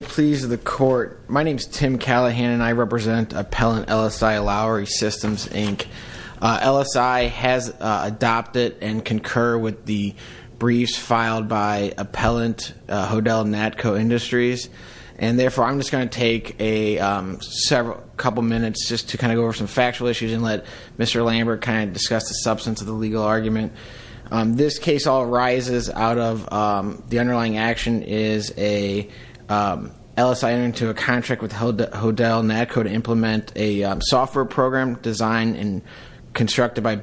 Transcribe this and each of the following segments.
Please the court. My name is Tim Callahan and I represent Appellant LSI Lowery Systems, Inc. LSI has adopted and concur with the briefs filed by Appellant Hodell-Natco Industries and therefore I'm just going to take a several couple minutes just to kind of go over some factual issues and let Mr. Lambert kind of discuss the substance of the legal argument. This case all arises out of the underlying action is a LSI entering into a contract with Hodell-Natco to implement a software program designed and constructed by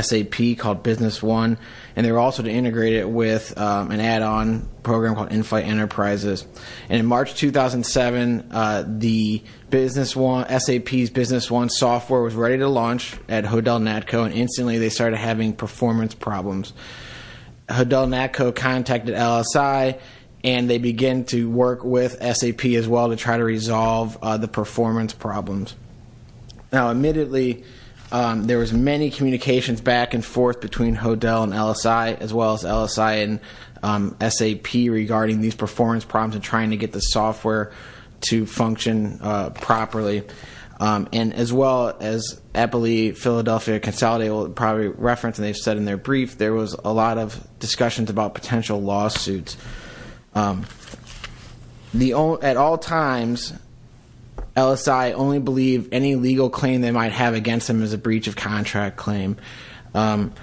SAP called Business One and they were also to integrate it with an add-on program called Inflight Enterprises. And in March 2007, SAP's Business One software was ready to launch at Hodell-Natco and instantly they started having performance problems. Hodell-Natco contacted LSI and they began to work with SAP as well to try to resolve the performance problems. Now admittedly there was many communications back and forth between Hodell and LSI as well as LSI and SAP regarding these performance problems and trying to get the software to function properly. And as well as Philadelphia Consolidated will probably reference and they've said in their brief, there was a lot of discussions about potential lawsuits. At all times, LSI only believed any legal claim they might have against them as a breach of contract claim. And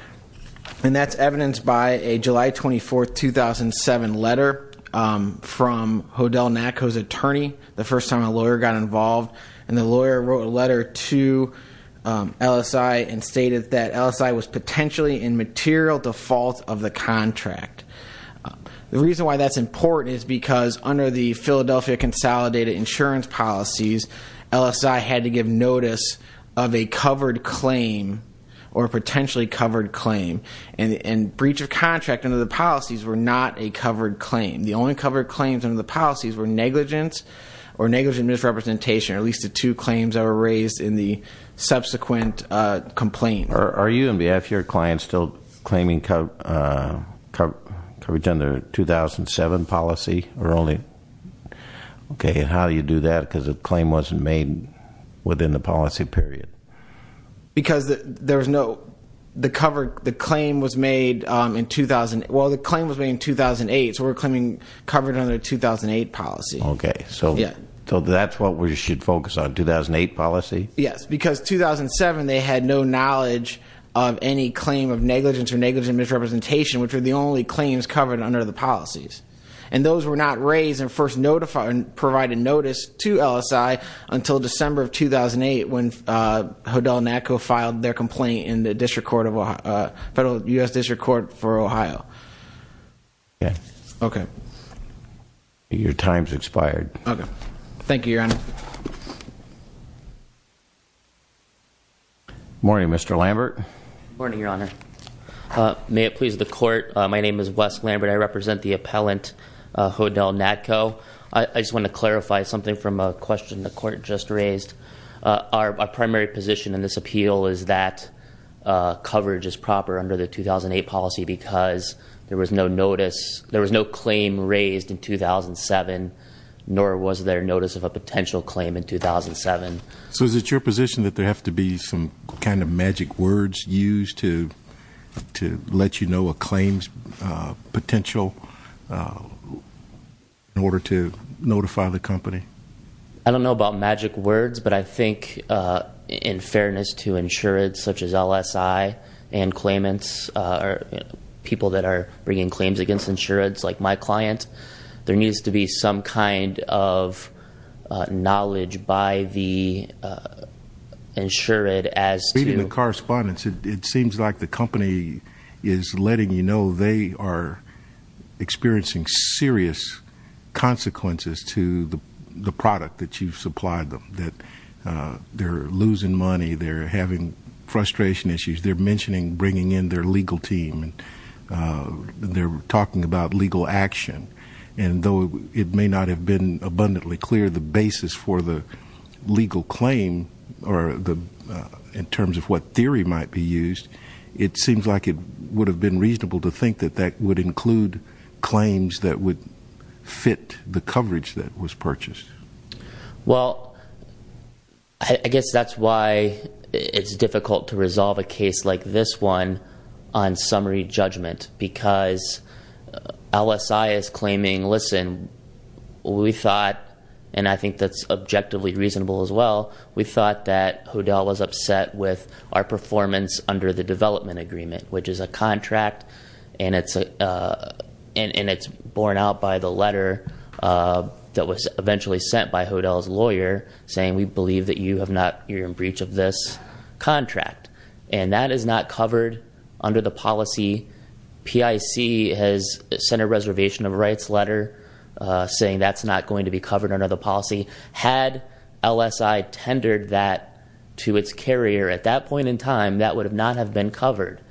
that's evidenced by a July 24, 2007 letter from Hodell-Natco's attorney the first time a lawyer got involved. And the lawyer wrote a letter to LSI and stated that LSI was potentially in material default of the contract. The reason why that's important is because under the Philadelphia Consolidated insurance policies, LSI had to give notice of a covered claim or potentially covered claim. And breach of contract under the policies were not a covered claim. The only covered claims under the policies were negligence or negligent misrepresentation or at least the two claims that were raised in the subsequent complaint. Are you and your clients still claiming coverage under 2007 policy or only? Okay, and how do you do that because the claim wasn't made within the policy period? Because there was no, the claim was made in 2008, so we're claiming covered under 2008 policy. Okay, so that's what we should focus on, 2008 policy? Yes, because 2007 they had no knowledge of any claim of negligence or negligent misrepresentation which were the only claims covered under the policies. And those were not raised and first notified and provided notice to LSI until December of 2008 when Hodell-Natco filed their complaint in the District Court of, Federal U.S. District Court for Ohio. Yeah. Okay. Your time's expired. Okay. Thank you, Your Honor. Morning, Mr. Lambert. Morning, Your Honor. May it please the court, my name is Wes Lambert. I represent the appellant Hodell-Natco. I just want to clarify something from a question the court just raised. Our primary position in this appeal is that coverage is proper under the 2008 policy because there was no notice, there was no claim raised in 2007, nor was there notice of a potential claim in 2007. So is it your position that there have to be some kind of magic words used to let you know a claim's potential in order to notify the company? I don't know about magic words, but I think in fairness to insured such as LSI and claimants, or people that are bringing claims against insureds like my client, there needs to be some kind of knowledge by the insured as to- Reading the correspondence, it seems like the company is letting you know they are experiencing serious consequences to the product that you've supplied them. That they're losing money, they're having frustration issues, they're mentioning bringing in their legal team, they're talking about legal action, and though it may not have been abundantly clear the basis for the legal claim, in terms of what theory might be used, it seems like it would have been reasonable to think that that would include claims that would fit the coverage that was purchased. Well, I guess that's why it's difficult to resolve a case like this one on summary judgment, because LSI is claiming, listen, we thought, and I think that's objectively reasonable as well, we thought that Hodel was upset with our performance under the development agreement, which is a contract and it's borne out by the letter that was eventually sent by Hodel's lawyer saying we believe that you're in breach of this contract. And that is not covered under the policy. PIC has sent a reservation of rights letter saying that's not going to be covered under the policy. Had LSI tendered that to its carrier at that point in time, that would not have been covered.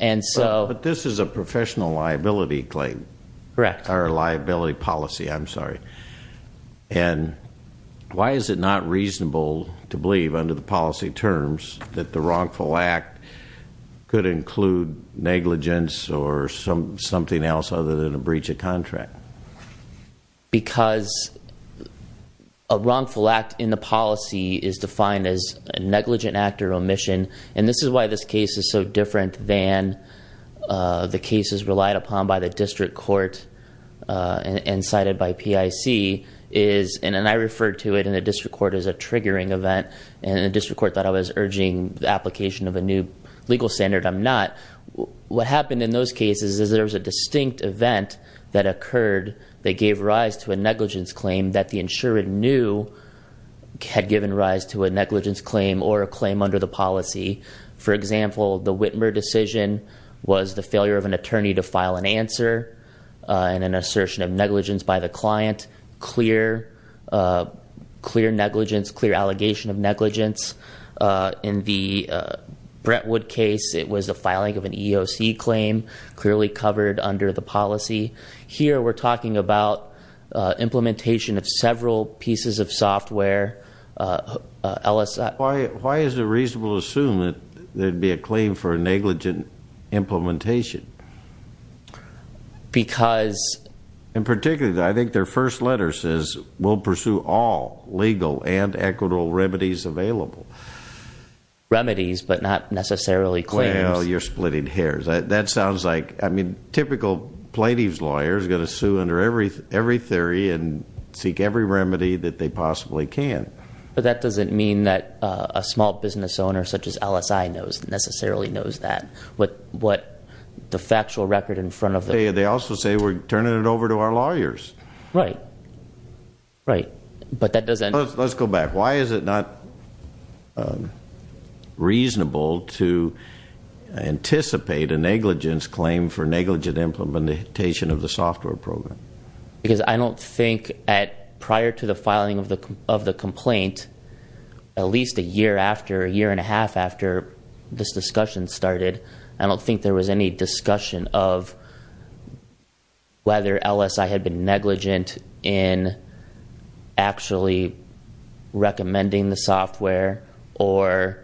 And so- But this is a professional liability claim. Correct. Or liability policy, I'm sorry. And why is it not reasonable to believe under the policy terms that the wrongful act could include negligence or something else other than a breach of contract? Because a wrongful act in the policy is defined as a negligent act or omission, and this is why this case is so different than the cases relied upon by the district court and cited by PIC is, and I referred to it in the district court as a triggering event, and the district court thought I was urging the application of a new legal standard. I'm not. What happened in those cases is there was a distinct event that occurred that gave rise to a negligence claim that the insurer knew had given rise to a negligence claim or a claim under the policy. For example, the Witmer decision was the failure of an attorney to file an answer and an assertion of negligence by the client. Clear negligence, clear allegation of negligence. In the Brentwood case, it was the filing of an EEOC claim, clearly covered under the policy. Here, we're talking about implementation of several pieces of software. Why is it reasonable to assume that there'd be a claim for a negligent implementation? Because. In particular, I think their first letter says, we'll pursue all legal and equitable remedies available. Remedies, but not necessarily claims. Well, you're splitting hairs. That sounds like, I mean, typical plaintiff's lawyer is going to sue under every theory and seek every remedy that they possibly can. But that doesn't mean that a small business owner, such as LSI, necessarily knows that. What the factual record in front of them. They also say, we're turning it over to our lawyers. Right. Right. But that doesn't. Let's go back. Why is it not reasonable to anticipate a negligence claim for negligent implementation of the software program? Because I don't think, prior to the filing of the complaint, at least a year after, a year and a half after this discussion started, I don't think there was any discussion of whether LSI had been negligent in actually recommending the software or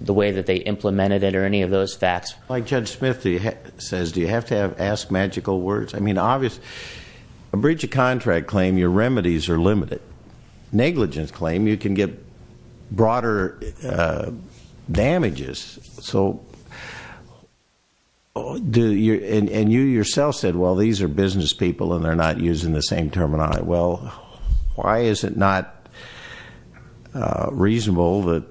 the way that they implemented it or any of those facts. Like Judge Smith says, do you have to ask magical words? I mean, obviously, a breach of contract claim, your remedies are limited. Negligence claim, you can get broader damages. So, and you yourself said, well, these are business people and they're not using the same terminology. Well, why is it not reasonable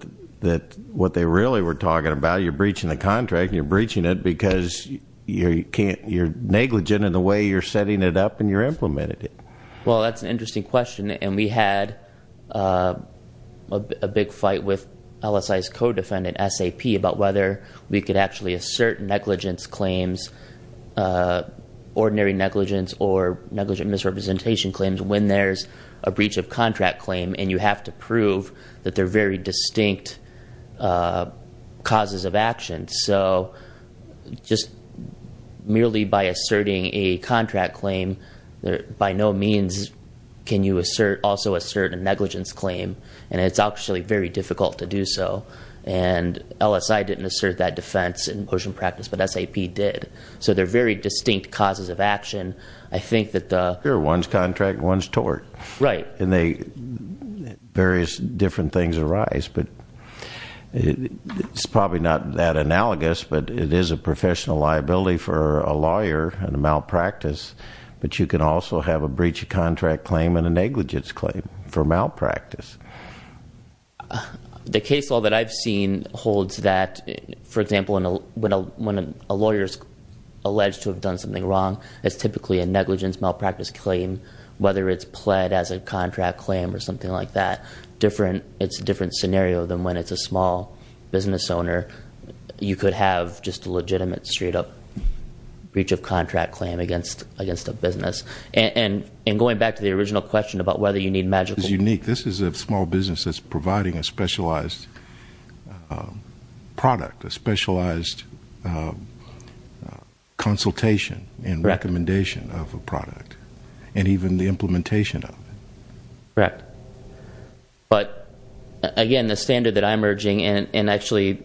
that what they really were talking about, you're breaching the contract and you're breaching it because you're negligent in the way you're setting it up and you're implementing it? Well, that's an interesting question. And we had a big fight with LSI's co-defendant, SAP, about whether we could actually assert negligence claims, ordinary negligence or negligent misrepresentation claims when there's a breach of contract claim and you have to prove that they're very distinct causes of action. So just merely by asserting a contract claim, by no means can you also assert a negligence claim. And it's actually very difficult to do so. And LSI didn't assert that defense in motion practice, but SAP did. So they're very distinct causes of action. I think that the- Sure, one's contract, one's tort. Right. And various different things arise. But it's probably not that analogous, but it is a professional liability for a lawyer and a malpractice. But you can also have a breach of contract claim and a negligence claim for malpractice. The case law that I've seen holds that, for example, when a lawyer's alleged to have done something wrong, it's typically a negligence malpractice claim, whether it's pled as a contract claim or something like that. It's a different scenario than when it's a small business owner. You could have just a legitimate, straight up, breach of contract claim against a business. And going back to the original question about whether you need magical- It's unique. This is a small business that's providing a specialized product, a specialized consultation and recommendation of a product. And even the implementation of it. Correct. But again, the standard that I'm urging, and actually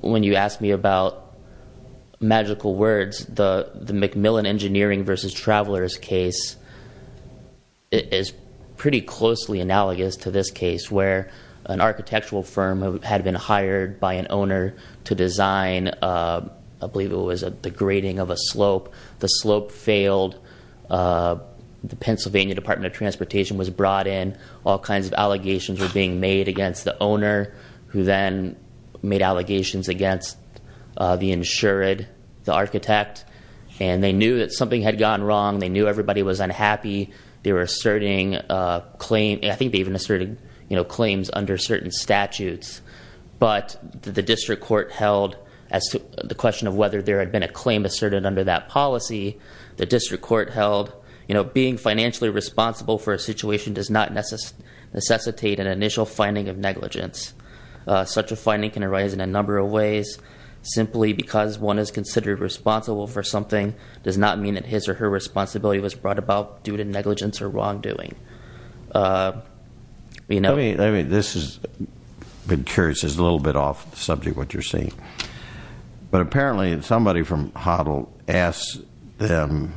when you asked me about magical words, the McMillan Engineering versus Travelers case is pretty closely analogous to this case, where an architectural firm had been hired by an owner to design, I believe it was the grading of a slope. The slope failed. The Pennsylvania Department of Transportation was brought in. All kinds of allegations were being made against the owner, who then made allegations against the insured, the architect. And they knew that something had gone wrong. They knew everybody was unhappy. They were asserting a claim. I think they even asserted claims under certain statutes. But the district court held, as to the question of whether there had been a claim asserted under that policy, the district court held, being financially responsible for a situation does not necessitate an initial finding of negligence. Such a finding can arise in a number of ways. Simply because one is considered responsible for something, does not mean that his or her responsibility was brought about due to negligence or wrongdoing. This has been curious. It's a little bit off subject, what you're saying. But apparently, somebody from HODL asked them,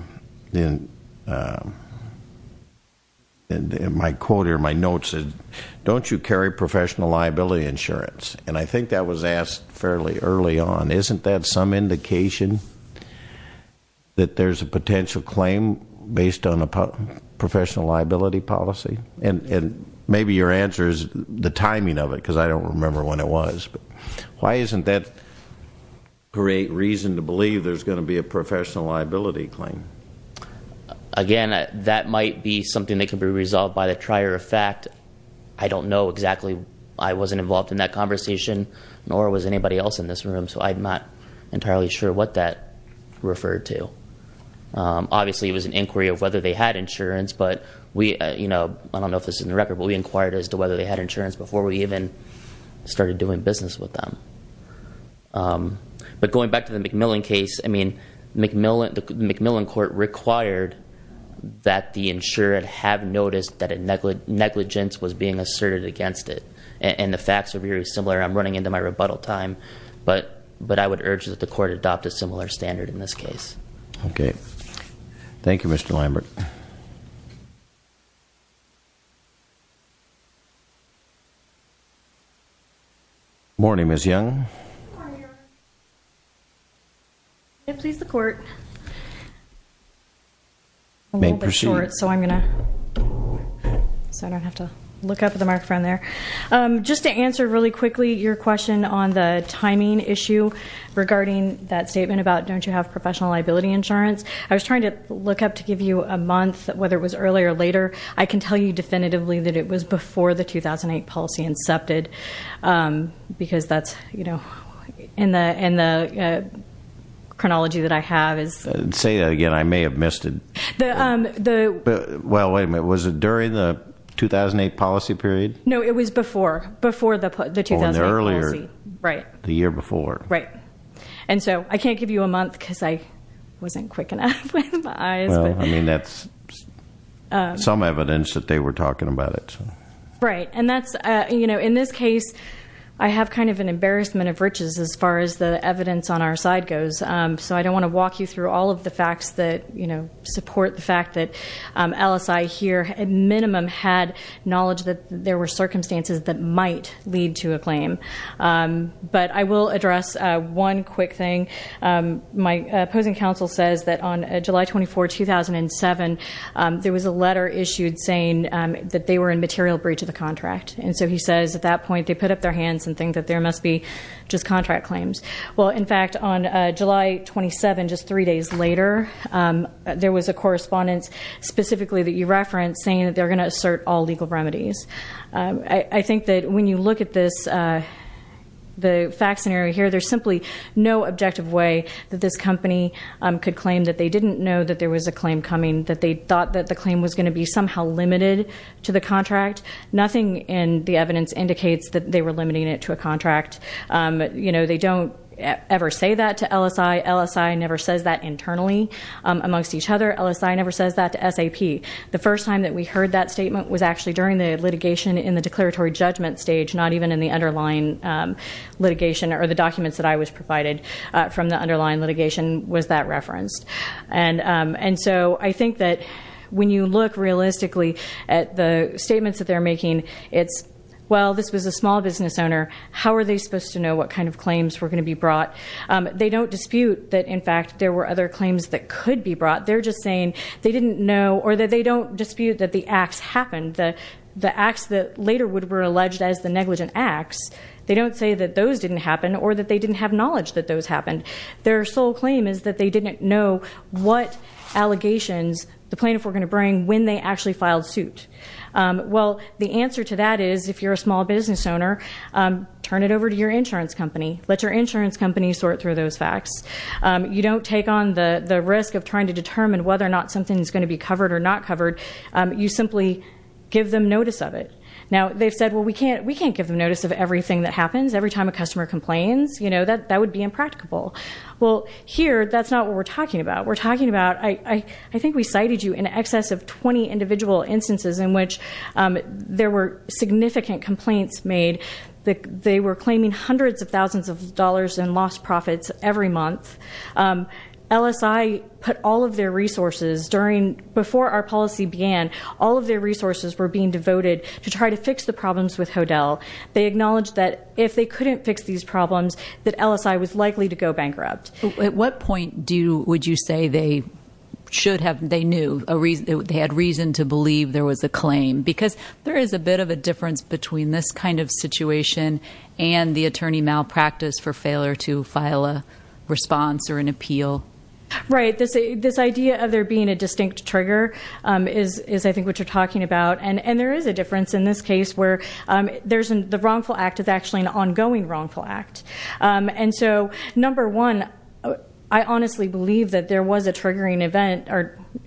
my quote here, my notes, don't you carry professional liability insurance? And I think that was asked fairly early on. Isn't that some indication that there's a potential claim based on a professional liability policy? And maybe your answer is the timing of it, because I don't remember when it was. Why isn't that great reason to believe there's going to be a professional liability claim? Again, that might be something that could be resolved by the trier of fact. I don't know exactly. I wasn't involved in that conversation, nor was anybody else in this room. So I'm not entirely sure what that referred to. Obviously, it was an inquiry of whether they had insurance. But we, I don't know if this is in the record, but we inquired as to whether they had insurance before we even started doing business with them. But going back to the McMillan case, I mean, the McMillan court required that the insured have noticed that negligence was being asserted against it. And the facts are very similar. I'm running into my rebuttal time. But I would urge that the court adopt a similar standard in this case. Okay. Thank you, Mr. Lambert. Good morning, Ms. Young. Good morning, Your Honor. May it please the court. May it proceed. So I'm going to, so I don't have to look up at the microphone there. Just to answer really quickly your question on the timing issue regarding that statement about, don't you have professional liability insurance? I was trying to look up to give you a month, whether it was earlier or later. I can tell you definitively that it was before the 2008 policy incepted. Because that's, you know, in the chronology that I have is- Say that again. I may have missed it. Well, wait a minute. Was it during the 2008 policy period? No, it was before. Before the 2008 policy. Right. The year before. Right. And so I can't give you a month because I wasn't quick enough with my eyes. I mean, that's some evidence that they were talking about it. Right. And that's, you know, in this case, I have kind of an embarrassment of riches as far as the evidence on our side goes. So I don't want to walk you through all of the facts that, you know, support the fact that LSI here, at minimum, had knowledge that there were circumstances that might lead to a claim. But I will address one quick thing. My opposing counsel says that on July 24, 2007, there was a letter issued saying that they were in material breach of the contract. And so he says, at that point, they put up their hands and think that there must be just contract claims. Well, in fact, on July 27, just three days later, there was a correspondence specifically that you referenced saying that they're going to assert all legal remedies. I think that when you look at this, the fact scenario here, there's simply no objective way that this company could claim that they didn't know that there was a claim coming, that they thought that the claim was going to be somehow limited to the contract. Nothing in the evidence indicates that they were limiting it to a contract. You know, they don't ever say that to LSI. LSI never says that internally amongst each other. LSI never says that to SAP. The first time that we heard that statement was actually during the litigation in the declaratory judgment stage, not even in the underlying litigation or the documents that I was provided from the underlying litigation was that referenced. And so I think that when you look realistically at the statements that they're making, it's, well, this was a small business owner, how are they supposed to know what kind of claims were going to be brought? They don't dispute that, in fact, there were other claims that could be brought. They're just saying they didn't know or that they don't dispute that the acts happened. The acts that later would have been alleged as the negligent acts, they don't say that those didn't happen or that they didn't have knowledge that those happened. Their sole claim is that they didn't know what allegations the plaintiff were going to bring when they actually filed suit. Well, the answer to that is, if you're a small business owner, turn it over to your insurance company. Let your insurance company sort through those facts. You don't take on the risk of trying to determine whether or not something's going to be covered or not covered. You simply give them notice of it. Now, they've said, well, we can't give them notice of everything that happens. Every time a customer complains, that would be impracticable. Well, here, that's not what we're talking about. We're talking about, I think we cited you in excess of 20 individual instances in which there were significant complaints made. They were claiming hundreds of thousands of dollars in lost profits every month. LSI put all of their resources during, before our policy began, all of their resources were being devoted to try to fix the problems with HODL. They acknowledged that if they couldn't fix these problems, that LSI was likely to go bankrupt. At what point would you say they should have, they knew, they had reason to believe there was a claim? Because there is a bit of a difference between this kind of situation and the attorney malpractice for failure to file a response or an appeal. Right, this idea of there being a distinct trigger is, I think, what you're talking about. And there is a difference in this case where the wrongful act is actually an ongoing wrongful act. And so, number one, I honestly believe that there was a triggering event.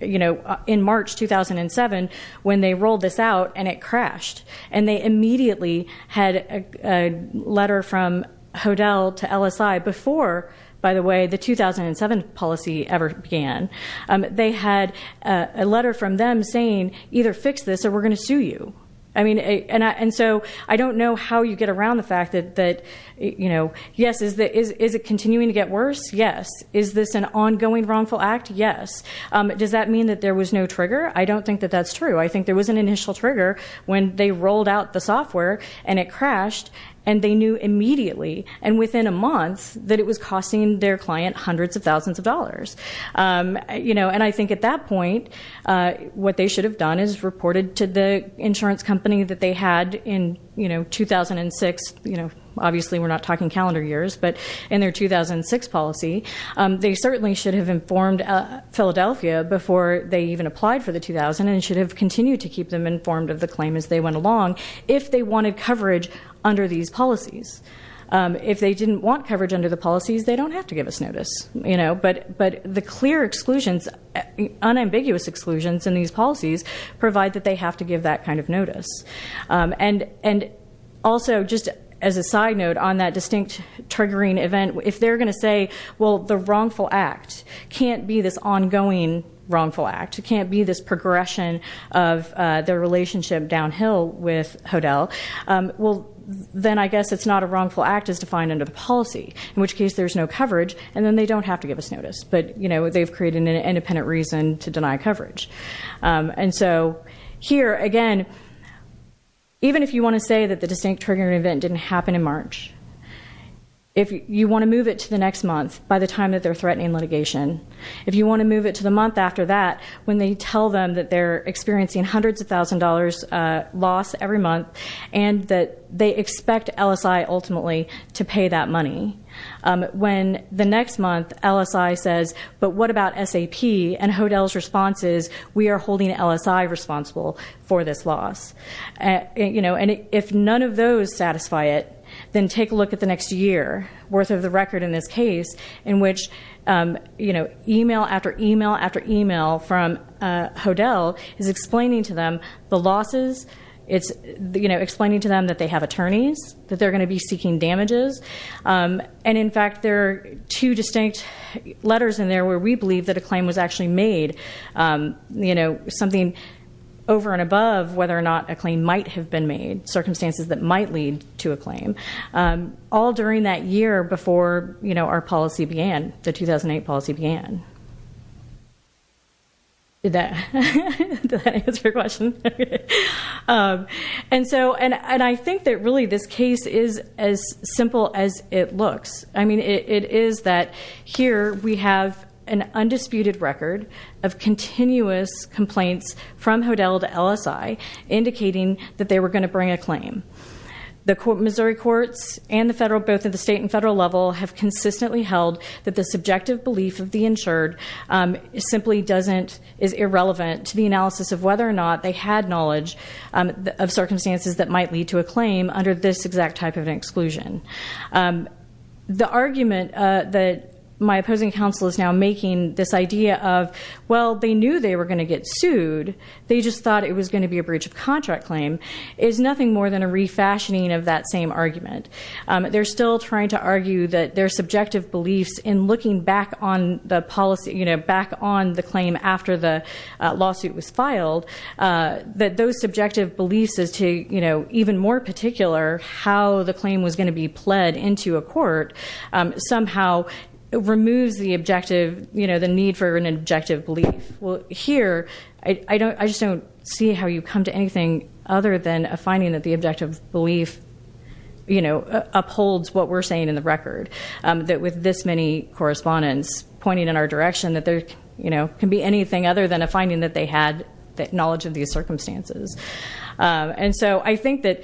In March 2007, when they rolled this out and it crashed. And they immediately had a letter from HODL to LSI before, by the way, the 2007 policy ever began. They had a letter from them saying, either fix this or we're going to sue you. I mean, and so I don't know how you get around the fact that, yes, is it continuing to get worse? Yes, is this an ongoing wrongful act? Yes, does that mean that there was no trigger? I don't think that that's true. I think there was an initial trigger when they rolled out the software and it crashed. And they knew immediately, and within a month, that it was costing their client hundreds of thousands of dollars. And I think at that point, what they should have done is reported to the insurance company that they had in 2006. Obviously, we're not talking calendar years, but in their 2006 policy, they certainly should have informed Philadelphia before they even applied for the 2000. And should have continued to keep them informed of the claim as they went along if they wanted coverage under these policies. If they didn't want coverage under the policies, they don't have to give us notice. But the clear exclusions, unambiguous exclusions in these policies provide that they have to give that kind of notice. And also, just as a side note on that distinct triggering event, if they're going to say, well, the wrongful act can't be this ongoing wrongful act, can't be this progression of the relationship downhill with HODL. Well, then I guess it's not a wrongful act as defined under the policy, in which case there's no coverage, and then they don't have to give us notice. But they've created an independent reason to deny coverage. And so here, again, even if you want to say that the distinct triggering event didn't happen in March, if you want to move it to the next month by the time that they're threatening litigation. If you want to move it to the month after that, when they tell them that they're experiencing hundreds of thousand dollars loss every month. And that they expect LSI ultimately to pay that money. When the next month, LSI says, but what about SAP? And HODL's response is, we are holding LSI responsible for this loss. And if none of those satisfy it, then take a look at the next year worth of the record in this case. In which email after email after email from HODL is explaining to them the losses. It's explaining to them that they have attorneys, that they're going to be seeking damages. And in fact, there are two distinct letters in there where we believe that a claim was actually made. Something over and above whether or not a claim might have been made. Circumstances that might lead to a claim. All during that year before our policy began, the 2008 policy began. Did that answer your question? And so, and I think that really this case is as simple as it looks. I mean, it is that here we have an undisputed record of continuous complaints from HODL to LSI. Indicating that they were going to bring a claim. The Missouri courts and the federal, both at the state and federal level, have consistently held that the subjective belief of the insured simply doesn't, is irrelevant to the analysis of whether or not they had knowledge of circumstances that might lead to a claim under this exact type of an exclusion. The argument that my opposing counsel is now making this idea of, well, they knew they were going to get sued. They just thought it was going to be a breach of contract claim, is nothing more than a refashioning of that same argument. They're still trying to argue that their subjective beliefs in looking back on the policy, back on the claim after the lawsuit was filed, that those subjective beliefs as to even more particular how the claim was going to be pled into a court. Somehow removes the objective, the need for an objective belief. Well, here, I just don't see how you come to anything other than a finding that the objective belief upholds what we're saying in the record, that with this many correspondents pointing in our direction, that there can be anything other than a finding that they had knowledge of these circumstances. And so I think that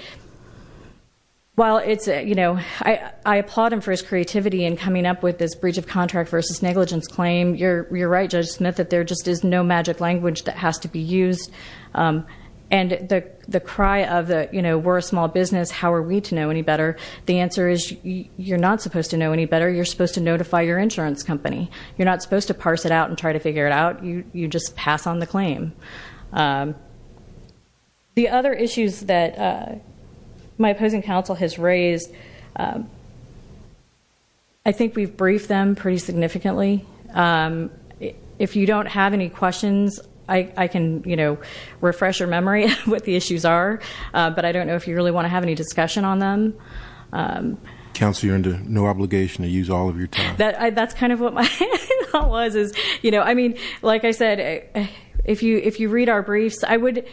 while I applaud him for his creativity in coming up with this breach of contract versus negligence claim, you're right, Judge Smith, that there just is no magic language that has to be used. And the cry of the, we're a small business, how are we to know any better? The answer is, you're not supposed to know any better, you're supposed to notify your insurance company. You're not supposed to parse it out and try to figure it out, you just pass on the claim. The other issues that my opposing counsel has raised, I think we've briefed them pretty significantly. If you don't have any questions, I can refresh your memory of what the issues are. But I don't know if you really want to have any discussion on them. Council, you're under no obligation to use all of your time. That's kind of what my thought was is, I mean, like I said, if you read our briefs, I would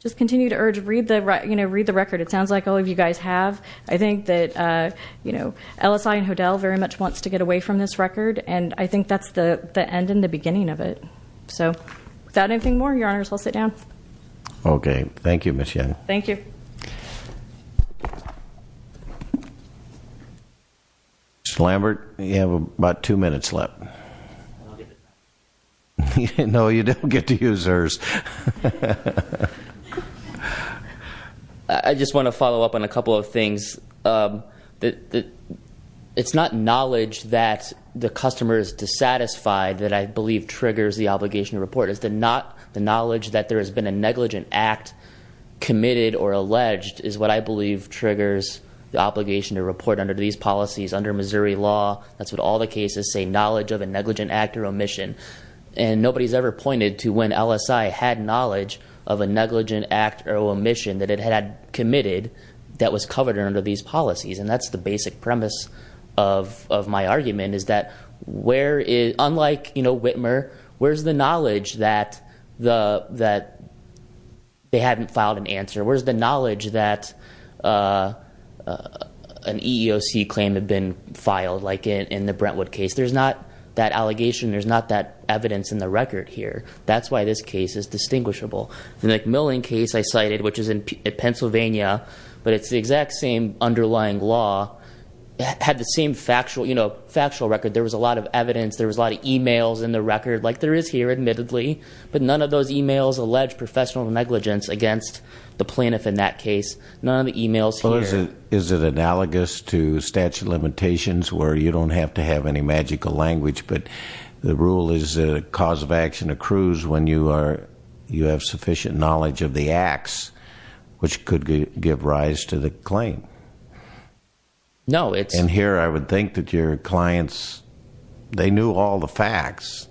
just continue to urge, read the record. It sounds like all of you guys have. I think that LSI and HODL very much wants to get away from this record. And I think that's the end and the beginning of it. So, without anything more, your honors, I'll sit down. Okay, thank you, Ms. Yen. Thank you. Mr. Lambert, you have about two minutes left. No, you don't get to use hers. I just want to follow up on a couple of things. It's not knowledge that the customer is dissatisfied that I believe triggers the obligation to report. It's the knowledge that there has been a negligent act committed or alleged is what I believe triggers the obligation to report under these policies under Missouri law. That's what all the cases say, knowledge of a negligent act or omission. And nobody's ever pointed to when LSI had knowledge of a negligent act or one of these policies, and that's the basic premise of my argument, is that where, unlike Whitmer, where's the knowledge that they hadn't filed an answer? Where's the knowledge that an EEOC claim had been filed, like in the Brentwood case? There's not that allegation, there's not that evidence in the record here. That's why this case is distinguishable. The McMillian case I cited, which is in Pennsylvania, but it's the exact same underlying law. It had the same factual record. There was a lot of evidence, there was a lot of emails in the record, like there is here admittedly. But none of those emails allege professional negligence against the plaintiff in that case. None of the emails here- Is it analogous to statute of limitations where you don't have to have any magical language, but the rule is that a cause of action accrues when you have sufficient knowledge of the acts. Which could give rise to the claim. No, it's- And here I would think that your clients, they knew all the facts.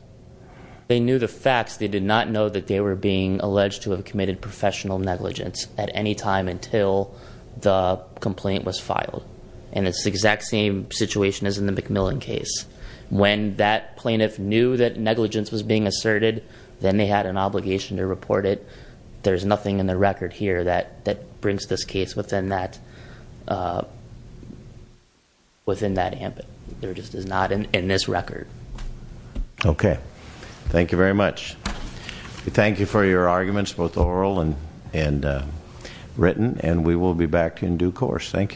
They knew the facts. They did not know that they were being alleged to have committed professional negligence at any time until the complaint was filed. And it's the exact same situation as in the McMillian case. When that plaintiff knew that negligence was being asserted, then they had an obligation to report it. There's nothing in the record here that brings this case within that ambit. There just is not in this record. Okay, thank you very much. We thank you for your arguments, both oral and written, and we will be back in due course. Thank you.